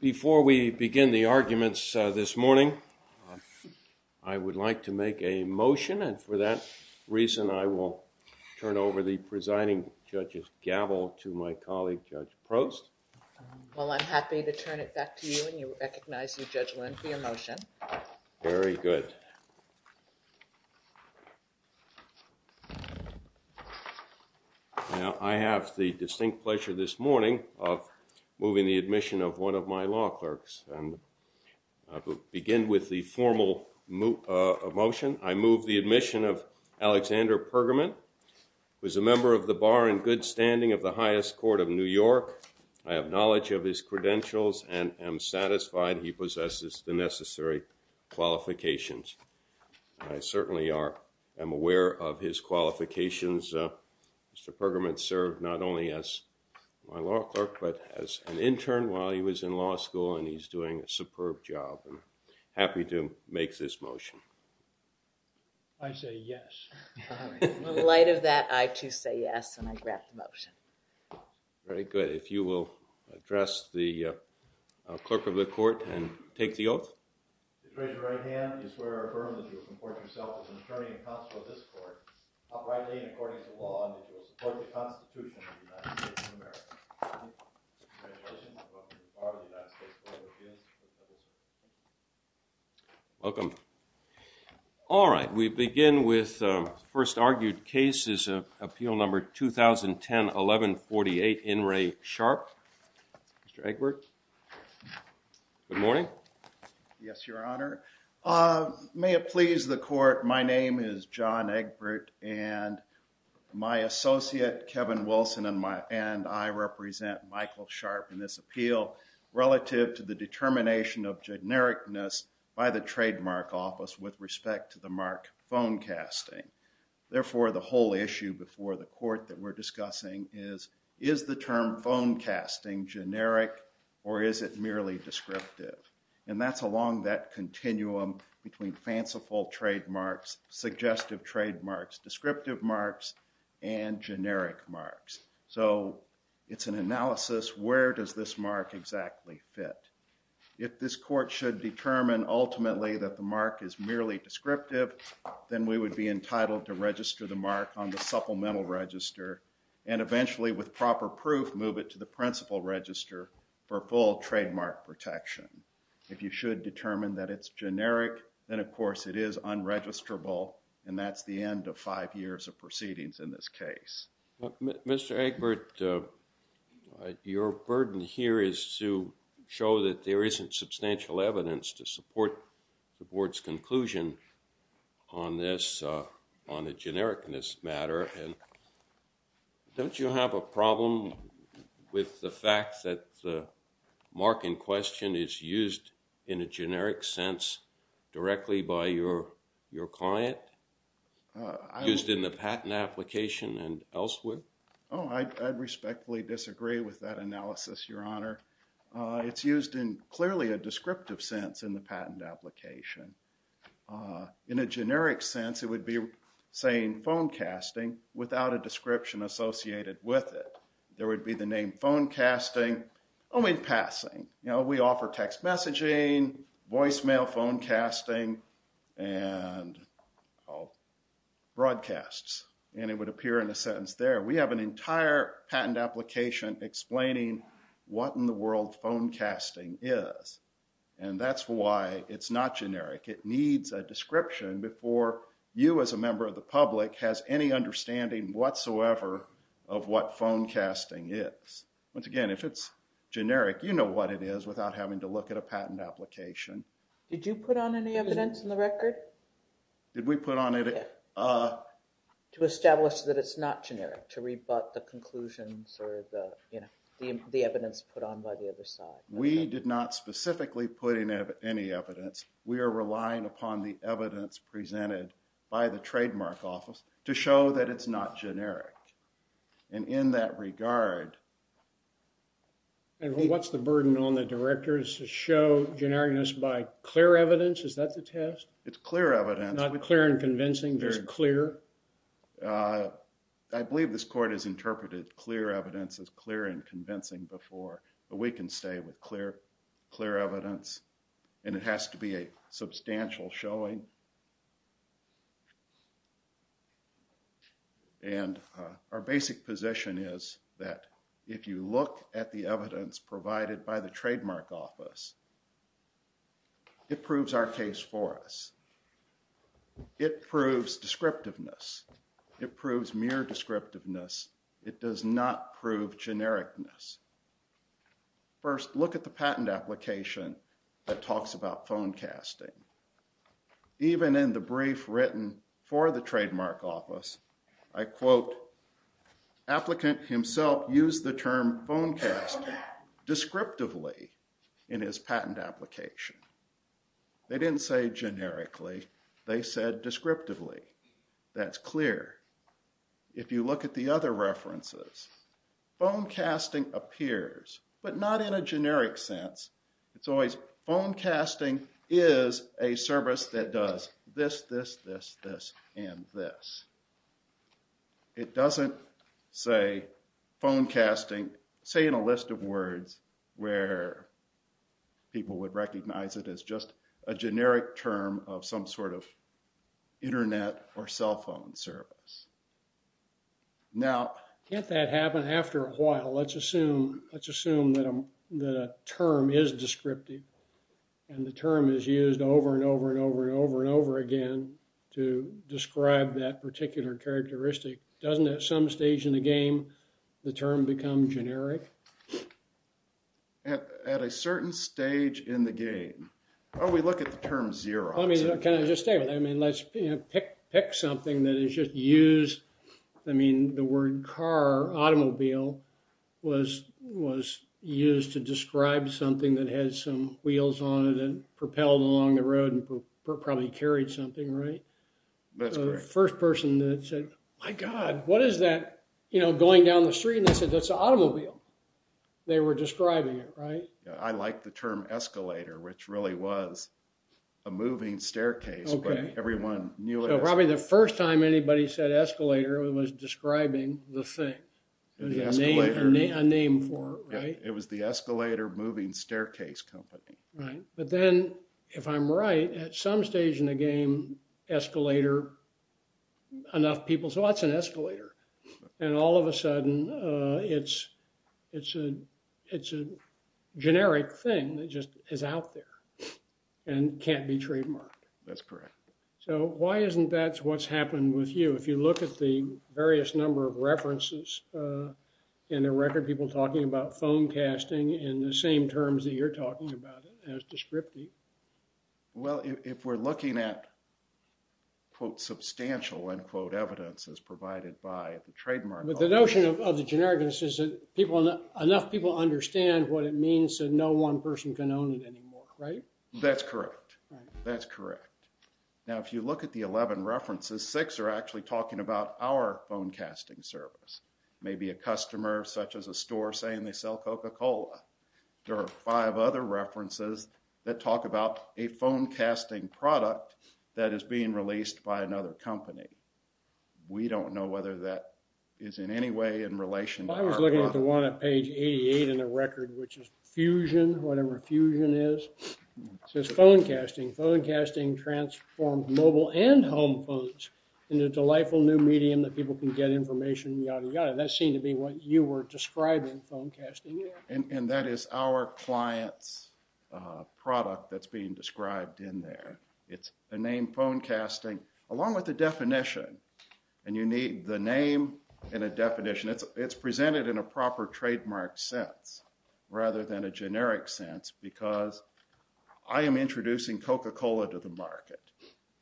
Before we begin the arguments this morning, I would like to make a motion and for that reason I will turn over the presiding judge's gavel to my colleague, Judge Prost. Well, I'm happy to turn it back to you and you recognize you, Judge Lind, for your motion. Very good. Now, I have the distinct pleasure this morning of moving the admission of one of my law clerks and I will begin with the formal motion. I move the admission of Alexander Pergamon, who is a member of the Bar and Good Standing of the Highest Court of New York. I have knowledge of his credentials and am satisfied he possesses the necessary qualifications and I certainly am aware of his qualifications. Mr. Pergamon served not only as my law clerk but as an intern while he was in law school and he's doing a superb job. Happy to make this motion. I say yes. In light of that, I too say yes and I grant the motion. Very good. If you will address the clerk of the court and take the oath. Raise your right hand and I swear or affirm that you will comport yourself as an attorney and counsel of this court, uprightly and according to law, and that you will support the Constitution of the United States of America. Congratulations. Welcome to the Bar of the United States Court of Appeals. Welcome. All right. We begin with the first argued case is Appeal Number 2010-1148, In re Sharp. Mr. Egbert. Good morning. Yes, Your Honor. May it please the court, my name is John Egbert and my associate, Kevin Wilson, and I represent Michael Sharp in this appeal relative to the determination of genericness by the trademark office with respect to the mark phone casting. Therefore, the whole issue before the court that we're discussing is, is the term phone casting generic or is it merely descriptive? And that's along that continuum between fanciful trademarks, suggestive trademarks, descriptive marks, and generic marks. So, it's an analysis, where does this mark exactly fit? If this court should determine ultimately that the mark is merely descriptive, then we would be entitled to register the mark on the supplemental register and eventually with proper proof, move it to the principal register for full trademark protection. If you should determine that it's generic, then of course it is unregisterable and that's the end of five years of proceedings in this case. Mr. Egbert, your burden here is to show that there isn't substantial evidence to support the board's conclusion on this, on the genericness matter. Don't you have a problem with the fact that the mark in question is used in a generic sense directly by your client, used in the patent application and elsewhere? Oh, I respectfully disagree with that analysis, Your Honor. It's used in clearly a descriptive sense in the patent application. In a generic sense, it would be saying phone casting without a description associated with it. There would be the name phone casting only passing. You know, we offer text messaging, voicemail phone casting, and broadcasts. And it would appear in a sentence there. We have an entire patent application explaining what in the world phone casting is. And that's why it's not generic. It needs a description before you as a member of the public has any understanding whatsoever of what phone casting is. Once again, if it's generic, you know what it is without having to look at a patent application. Did you put on any evidence in the record? Did we put on any? To establish that it's not generic, to rebut the conclusions or the, you know, the evidence put on by the other side. We did not specifically put in any evidence. We are relying upon the evidence presented by the trademark office to show that it's not generic. And in that regard... And what's the burden on the directors to show genericness by clear evidence? Is that the test? It's clear evidence. Not clear and convincing, just clear? Uh, I believe this court has interpreted clear evidence as clear and convincing before. But we can stay with clear, clear evidence. And it has to be a substantial showing. And our basic position is that if you look at the evidence provided by the trademark office, it proves our case for us. It proves descriptiveness. It proves mere descriptiveness. It does not prove genericness. First, look at the patent application that talks about phone casting. Even in the brief written for the trademark office, I quote, applicant himself used the term phone casting descriptively in his patent application. They didn't say generically. They said descriptively. That's clear. If you look at the other references, phone casting appears, but not in a generic sense. It's always phone casting is a service that does this, this, this, this, and this. It doesn't say phone casting, say in a list of words, where people would recognize it as just a generic term of some sort of internet or cell phone service. Now, can't that happen after a while? Let's assume, let's assume that a term is descriptive. And the term is used over and over and over and over and over again to describe that particular characteristic. Doesn't at some stage in the game, the term become generic? At a certain stage in the game. Oh, we look at the term Xerox. Can I just say, let's pick something that is just used. I mean, the word car, automobile, was used to describe something that has some wheels on it and propelled along the road and probably carried something, right? The first person that said, my God, what is that going down the street? And I said, that's an automobile. They were describing it, right? I like the term escalator, which really was a moving staircase. Probably the first time anybody said escalator, it was describing the thing. A name for it, right? It was the Escalator Moving Staircase Company. Right. But then, if I'm right, at some stage in the game, escalator, enough people say, well, that's an escalator. And all of a sudden, it's a generic thing that just is out there and can't be trademarked. That's correct. So why isn't that what's happened with you? If you look at the various number of references in the record, why are people talking about phone casting in the same terms that you're talking about it as descriptive? Well, if we're looking at, quote, substantial, end quote, evidence as provided by the trademark. But the notion of the generic is that enough people understand what it means that no one person can own it anymore, right? That's correct. That's correct. Now, if you look at the 11 references, six are actually talking about our phone casting service. Maybe a customer, such as a store, saying they sell Coca-Cola. There are five other references that talk about a phone casting product that is being released by another company. We don't know whether that is in any way in relation to our product. I was looking at the one at page 88 in the record, which is Fusion, whatever Fusion is. It says, phone casting. Phone casting transformed mobile and home phones into a delightful new medium that people can get information yada, yada. That seemed to be what you were describing, phone casting. And that is our client's product that's being described in there. It's a name, phone casting, along with a definition. And you need the name and a definition. It's presented in a proper trademark sense rather than a generic sense because I am introducing Coca-Cola to the market.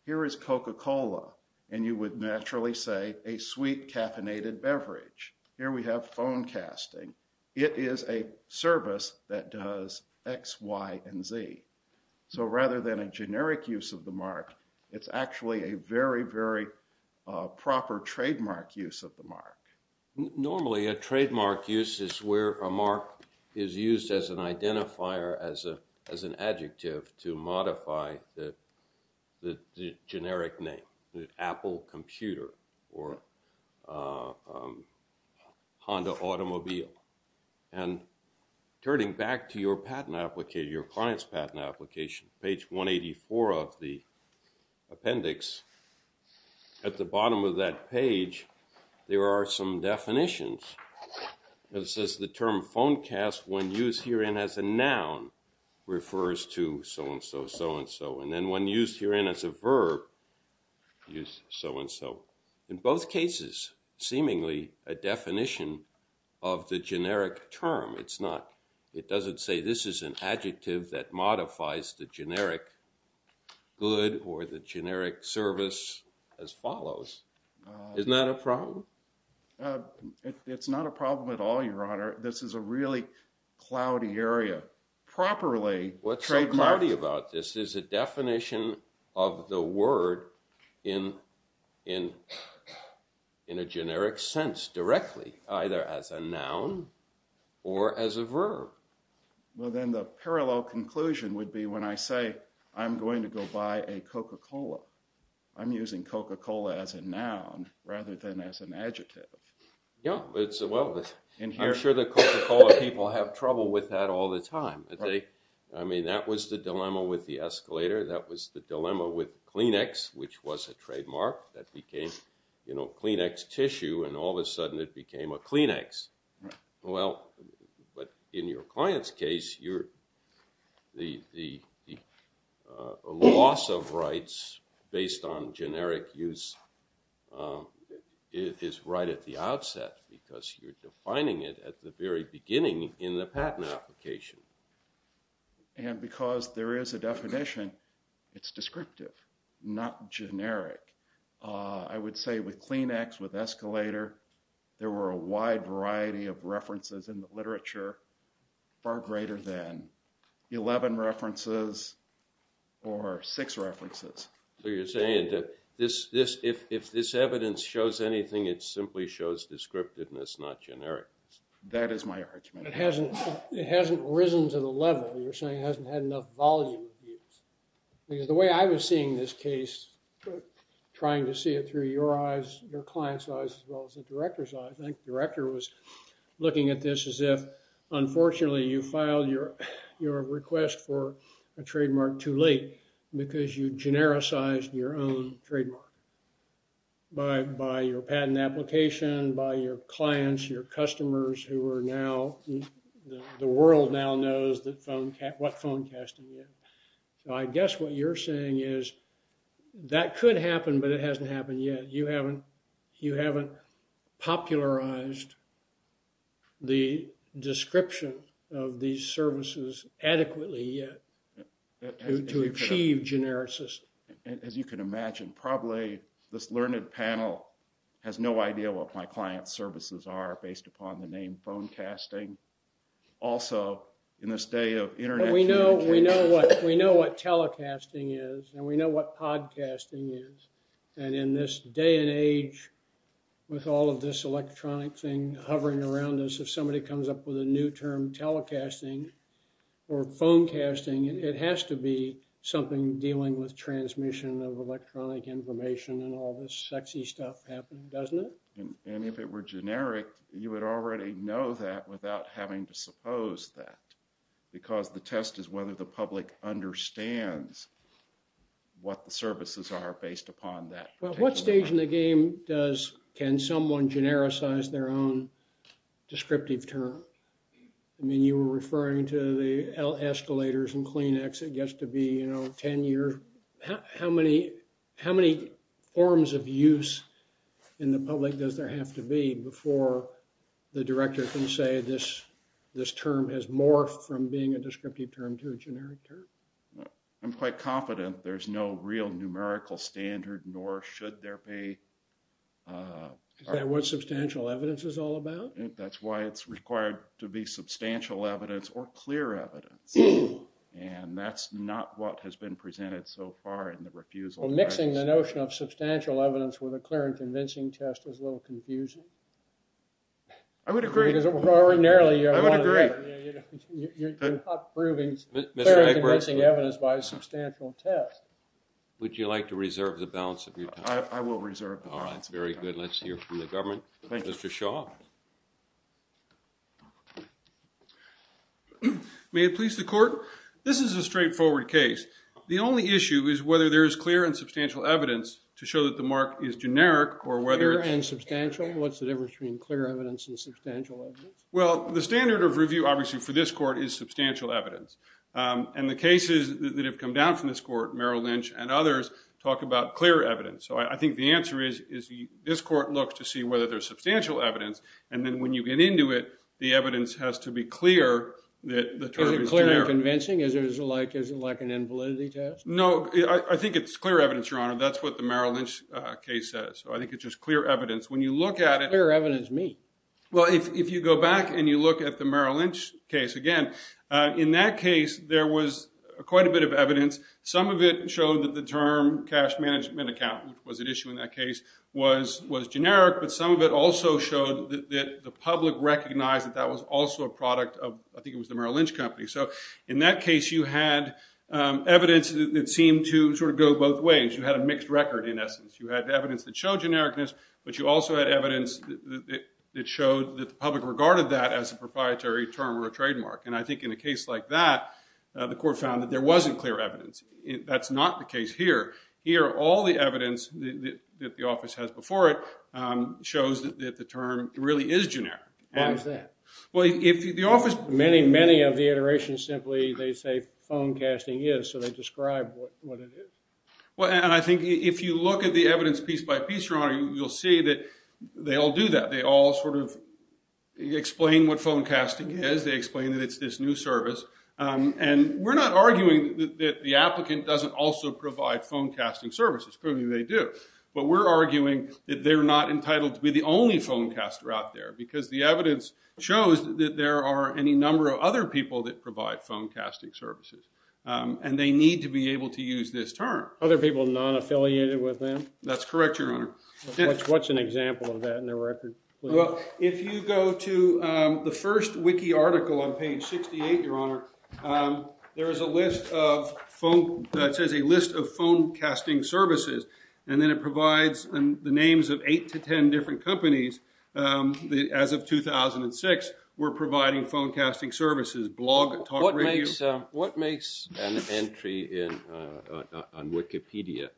Here is Coca-Cola, and you would naturally say a sweet caffeinated beverage. Here we have phone casting. It is a service that does X, Y, and Z. So rather than a generic use of the mark, it's actually a very, very proper trademark use of the mark. Normally a trademark use is where a mark is used as an identifier, as an adjective to modify the generic name, the Apple computer or Honda automobile. And turning back to your patent application, your client's patent application, page 184 of the appendix, at the bottom of that page there are some definitions. It says the term phone cast, when used herein as a noun, refers to so-and-so, so-and-so. And then when used herein as a verb, use so-and-so. In both cases, seemingly a definition of the generic term. It doesn't say this is an adjective that modifies the generic good or the generic service as follows. Isn't that a problem? It's not a problem at all, Your Honor. This is a really cloudy area. Properly trademarked. What's so cloudy about this is a definition of the word in a generic sense, directly, either as a noun or as a verb. Well, then the parallel conclusion would be when I say, I'm going to go buy a Coca-Cola. I'm using Coca-Cola as a noun rather than as an adjective. Yeah. Well, I'm sure the Coca-Cola people have trouble with that all the time. I mean, that was the dilemma with the escalator. That was the dilemma with Kleenex, which was a trademark. That became Kleenex tissue, and all of a sudden it became a Kleenex. Well, but in your client's case, the loss of rights based on generic use is right at the outset because you're defining it at the very beginning in the patent application. And because there is a definition, it's descriptive, not generic. I would say with Kleenex, with escalator, there were a wide variety of references in the literature far greater than 11 references or six references. So you're saying that if this evidence shows anything, it simply shows descriptiveness, not generic. That is my argument. It hasn't risen to the level. You're saying it hasn't had enough volume. Because the way I was seeing this case, trying to see it through your eyes, your client's eyes, as well as the director's eyes, I think the director was looking at this as if, unfortunately, you filed your request for a trademark too late because you genericized your own trademark by your patent application, by your clients, your customers, who are now, the world now knows what phone casting is. So I guess what you're saying is that could happen, but it hasn't happened yet. You haven't popularized the description of these services adequately yet to achieve genericism. As you can imagine, probably this learned panel has no idea what my client's services are based upon the name phone casting. Also, in this day of internet communication. We know what telecasting is, and we know what podcasting is. And in this day and age with all of this electronic thing hovering around us, if somebody comes up with a new term telecasting or phone casting, it has to be something dealing with transmission of electronic information and all this sexy stuff happening, doesn't it? And if it were generic, you would already know that without having to suppose that. Because the test is whether the public understands what the services are based upon that. Well, what stage in the game can someone genericize their own descriptive term? I mean, you were referring to the escalators and Kleenex. It gets to be 10 years. How many forms of use in the public does there have to be before the director can say this term has morphed from being a descriptive term to a generic term? I'm quite confident there's no real numerical standard, nor should there be. Is that what substantial evidence is all about? That's why it's required to be substantial evidence or clear evidence. And that's not what has been presented so far in the refusal. Well, mixing the notion of substantial evidence with a clear and convincing test is a little confusing. I would agree. Because ordinarily you're not proving clear and convincing evidence by a substantial test. Would you like to reserve the balance of your time? I will reserve the balance of my time. All right, very good. Let's hear from the government. Mr. Shaw. May it please the court? This is a straightforward case. The only issue is whether there is clear and substantial evidence to show that the mark is generic or whether it's… Clear and substantial? What's the difference between clear evidence and substantial evidence? Well, the standard of review, obviously, for this court is substantial evidence. And the cases that have come down from this court, Merrill Lynch and others, talk about clear evidence. So I think the answer is this court looks to see whether there's substantial evidence. And then when you get into it, the evidence has to be clear that the term is generic. Is it clear and convincing? Is it like an invalidity test? No, I think it's clear evidence, Your Honor. That's what the Merrill Lynch case says. So I think it's just clear evidence. When you look at it… Clear evidence, me? Well, if you go back and you look at the Merrill Lynch case again, in that case there was quite a bit of evidence. Some of it showed that the term cash management account, which was at issue in that case, was generic. But some of it also showed that the public recognized that that was also a product of, I think it was the Merrill Lynch company. So in that case you had evidence that seemed to sort of go both ways. You had a mixed record, in essence. You had evidence that showed genericness, but you also had evidence that showed that the public regarded that as a proprietary term or a trademark. And I think in a case like that, the court found that there wasn't clear evidence. That's not the case here. Here, all the evidence that the office has before it shows that the term really is generic. How is that? Well, if the office… Many, many of the iterations simply, they say, phone casting is, so they describe what it is. Well, and I think if you look at the evidence piece by piece, Your Honor, you'll see that they all do that. They all sort of explain what phone casting is. They explain that it's this new service. And we're not arguing that the applicant doesn't also provide phone casting services. Clearly they do. But we're arguing that they're not entitled to be the only phone caster out there because the evidence shows that there are any number of other people that provide phone casting services, and they need to be able to use this term. Other people non-affiliated with them? That's correct, Your Honor. What's an example of that in their record? If you go to the first wiki article on page 68, Your Honor, there is a list of phone casting services, and then it provides the names of eight to ten different companies. As of 2006, we're providing phone casting services, blog, talk radio. What makes an entry on Wikipedia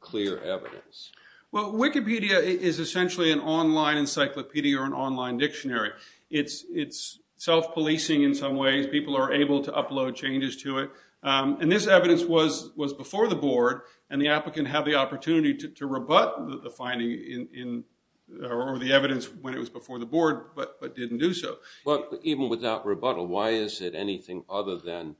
clear evidence? Well, Wikipedia is essentially an online encyclopedia or an online dictionary. It's self-policing in some ways. People are able to upload changes to it. And this evidence was before the board, and the applicant had the opportunity to rebut the finding or the evidence when it was before the board, but didn't do so. But even without rebuttal, why is it anything other than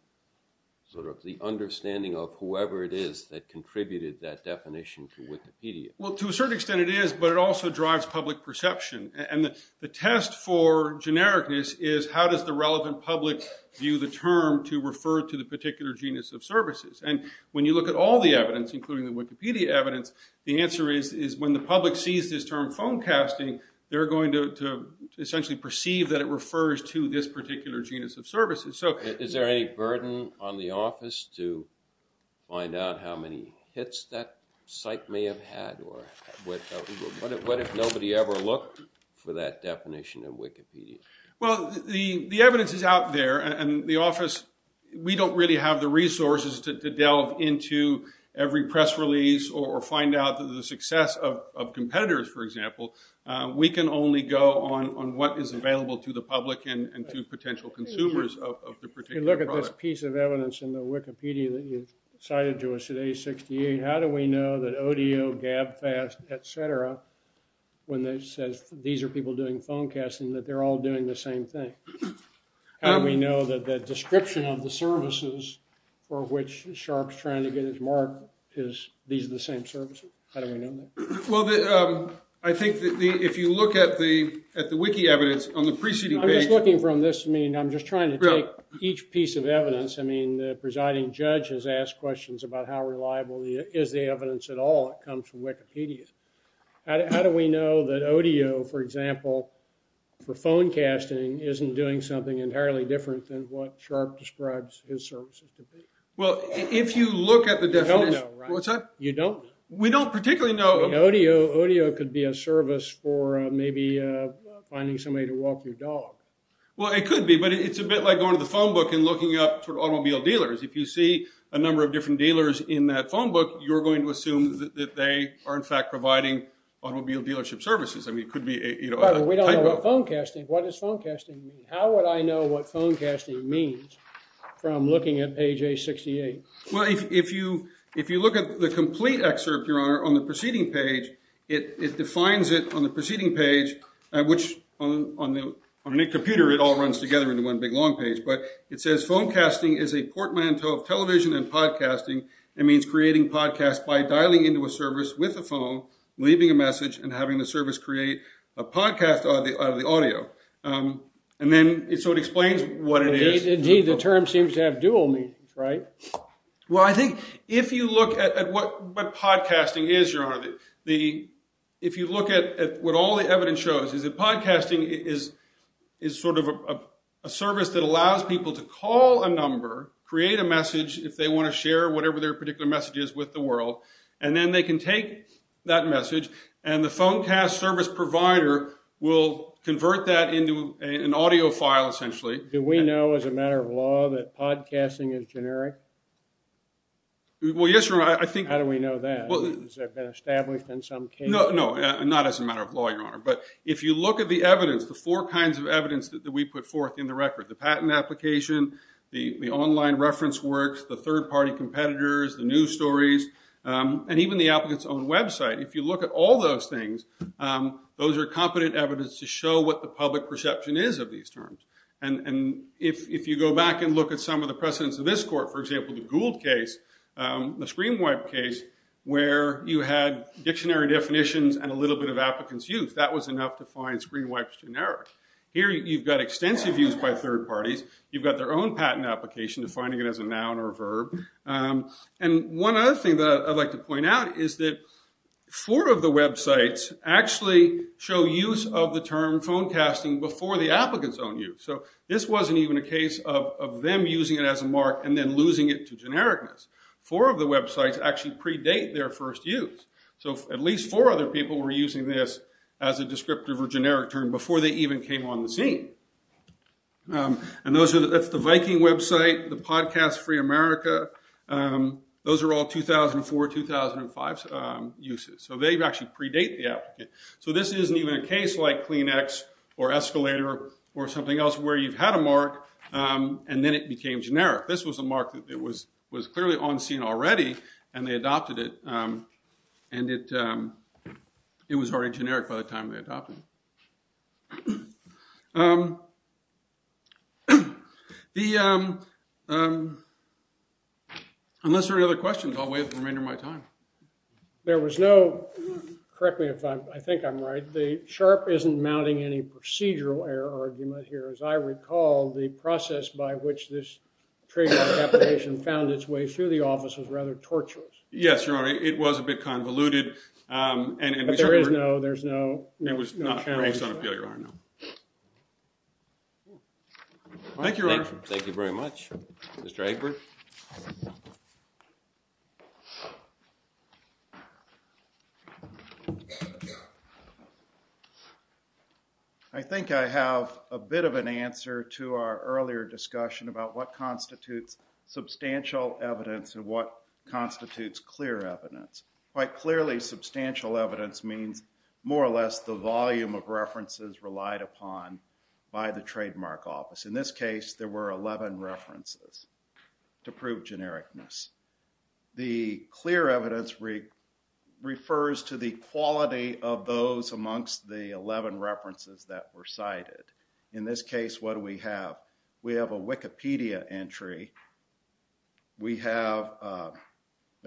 sort of the understanding of whoever it is that contributed that definition to Wikipedia? Well, to a certain extent it is, but it also drives public perception. And the test for genericness is how does the relevant public view the term to refer to the particular genus of services. And when you look at all the evidence, including the Wikipedia evidence, the answer is when the public sees this term phone casting, they're going to essentially perceive that it refers to this particular genus of services. Is there any burden on the office to find out how many hits that site may have had? What if nobody ever looked for that definition of Wikipedia? Well, the evidence is out there, and the office, we don't really have the resources to delve into every press release or find out the success of competitors, for example. We can only go on what is available to the public and to potential consumers of the particular product. If you look at this piece of evidence in the Wikipedia that you cited to us at A68, how do we know that ODO, GABFAST, et cetera, when it says these are people doing phone casting, that they're all doing the same thing? How do we know that the description of the services for which Sharpe's trying to get his mark is these are the same services? How do we know that? Well, I think if you look at the wiki evidence on the preceding page… I'm just looking from this. I mean, I'm just trying to take each piece of evidence. I mean, the presiding judge has asked questions about how reliable is the evidence at all that comes from Wikipedia. How do we know that ODO, for example, for phone casting, isn't doing something entirely different than what Sharpe describes his services to be? Well, if you look at the definition… You don't know, right? What's that? You don't know. We don't particularly know. ODO could be a service for maybe finding somebody to walk your dog. Well, it could be, but it's a bit like going to the phone book and looking up automobile dealers. If you see a number of different dealers in that phone book, you're going to assume that they are, in fact, providing automobile dealership services. I mean, it could be a type of… But we don't know what phone casting… What does phone casting mean? How would I know what phone casting means from looking at page A68? Well, if you look at the complete excerpt, Your Honor, on the preceding page, it defines it on the preceding page, which on any computer, it all runs together into one big long page. But it says, Phone casting is a portmanteau of television and podcasting and means creating podcasts by dialing into a service with a phone, leaving a message, and having the service create a podcast out of the audio. And then, so it explains what it is. Indeed, the term seems to have dual meanings, right? Well, I think if you look at what podcasting is, Your Honor, if you look at what all the evidence shows, is that podcasting is sort of a service that allows people to call a number, create a message if they want to share whatever their particular message is with the world, and then they can take that message, and the phone cast service provider will convert that into an audio file, essentially. Do we know as a matter of law that podcasting is generic? Well, yes, Your Honor. How do we know that? Has that been established in some case? No, not as a matter of law, Your Honor. But if you look at the evidence, the four kinds of evidence that we put forth in the record, the patent application, the online reference works, the third-party competitors, the news stories, and even the applicant's own website, if you look at all those things, those are competent evidence to show what the public perception is of these terms. And if you go back and look at some of the precedents of this court, for example, the Gould case, the ScreenWipe case, where you had dictionary definitions and a little bit of applicant's use, that was enough to find ScreenWipe's generic. Here you've got extensive use by third parties. You've got their own patent application defining it as a noun or a verb. And one other thing that I'd like to point out is that four of the websites actually show use of the term phonecasting before the applicant's own use. So this wasn't even a case of them using it as a mark and then losing it to genericness. Four of the websites actually predate their first use. So at least four other people were using this as a descriptive or generic term before they even came on the scene. And that's the Viking website, the Podcast Free America. Those are all 2004, 2005 uses. So they actually predate the applicant. So this isn't even a case like Kleenex or Escalator or something else where you've had a mark and then it became generic. This was a mark that was clearly on scene already, and they adopted it, and it was already generic by the time they adopted it. Unless there are any other questions, I'll waive the remainder of my time. There was no – correct me if I think I'm right. The SHARP isn't mounting any procedural error argument here. As I recall, the process by which this trademark application found its way through the office was rather tortuous. Yes, you're right. It was a bit convoluted. But there is no – there's no challenge. Okay. Thank you, Your Honor. Thank you very much. Mr. Egbert. I think I have a bit of an answer to our earlier discussion about what constitutes substantial evidence and what constitutes clear evidence. Quite clearly, substantial evidence means more or less the volume of references relied upon by the trademark office. In this case, there were 11 references to prove genericness. The clear evidence refers to the quality of those amongst the 11 references that were cited. In this case, what do we have? We have a Wikipedia entry. We have, of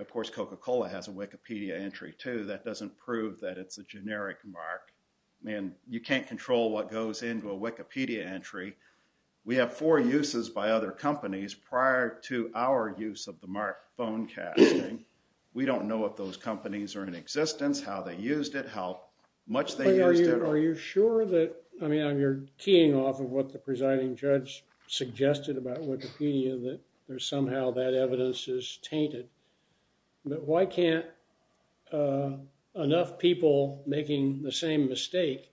course, Coca-Cola has a Wikipedia entry too. That doesn't prove that it's a generic mark. I mean, you can't control what goes into a Wikipedia entry. We have four uses by other companies prior to our use of the mark phone casting. We don't know if those companies are in existence, how they used it, how much they used it. Are you sure that, I mean, you're keying off of what the presiding judge suggested about Wikipedia, that somehow that evidence is tainted. But why can't enough people making the same mistake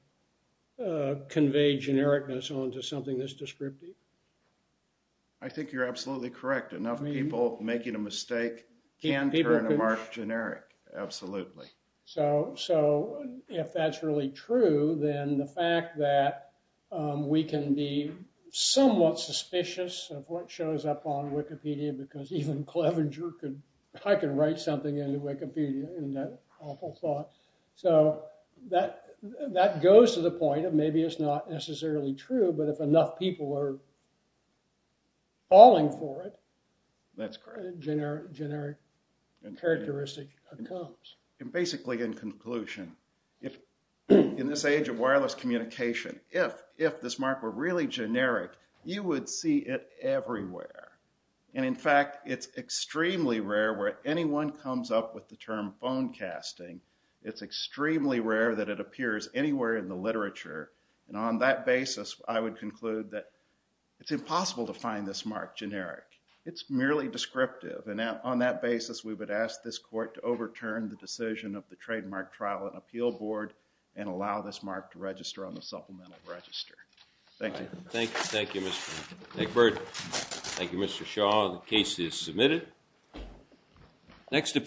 convey genericness onto something that's descriptive? I think you're absolutely correct. Enough people making a mistake can turn a mark generic, absolutely. So if that's really true, then the fact that we can be somewhat suspicious of what shows up on Wikipedia, because even Clevenger could, I can write something into Wikipedia in that awful thought. So that goes to the point of maybe it's not necessarily true, but if enough people are falling for it, that's correct. Generic characteristic comes. And basically in conclusion, in this age of wireless communication, if this mark were really generic, you would see it everywhere. And in fact, it's extremely rare where anyone comes up with the term phone casting. It's extremely rare that it appears anywhere in the literature. And on that basis, I would conclude that it's impossible to find this mark generic. It's merely descriptive. And on that basis, we would ask this court to overturn the decision of the Trademark Trial and Appeal Board and allow this mark to register on the supplemental register. Thank you. Thank you, Mr. Egbert. Thank you, Mr. Shaw. The case is submitted. Next appeal.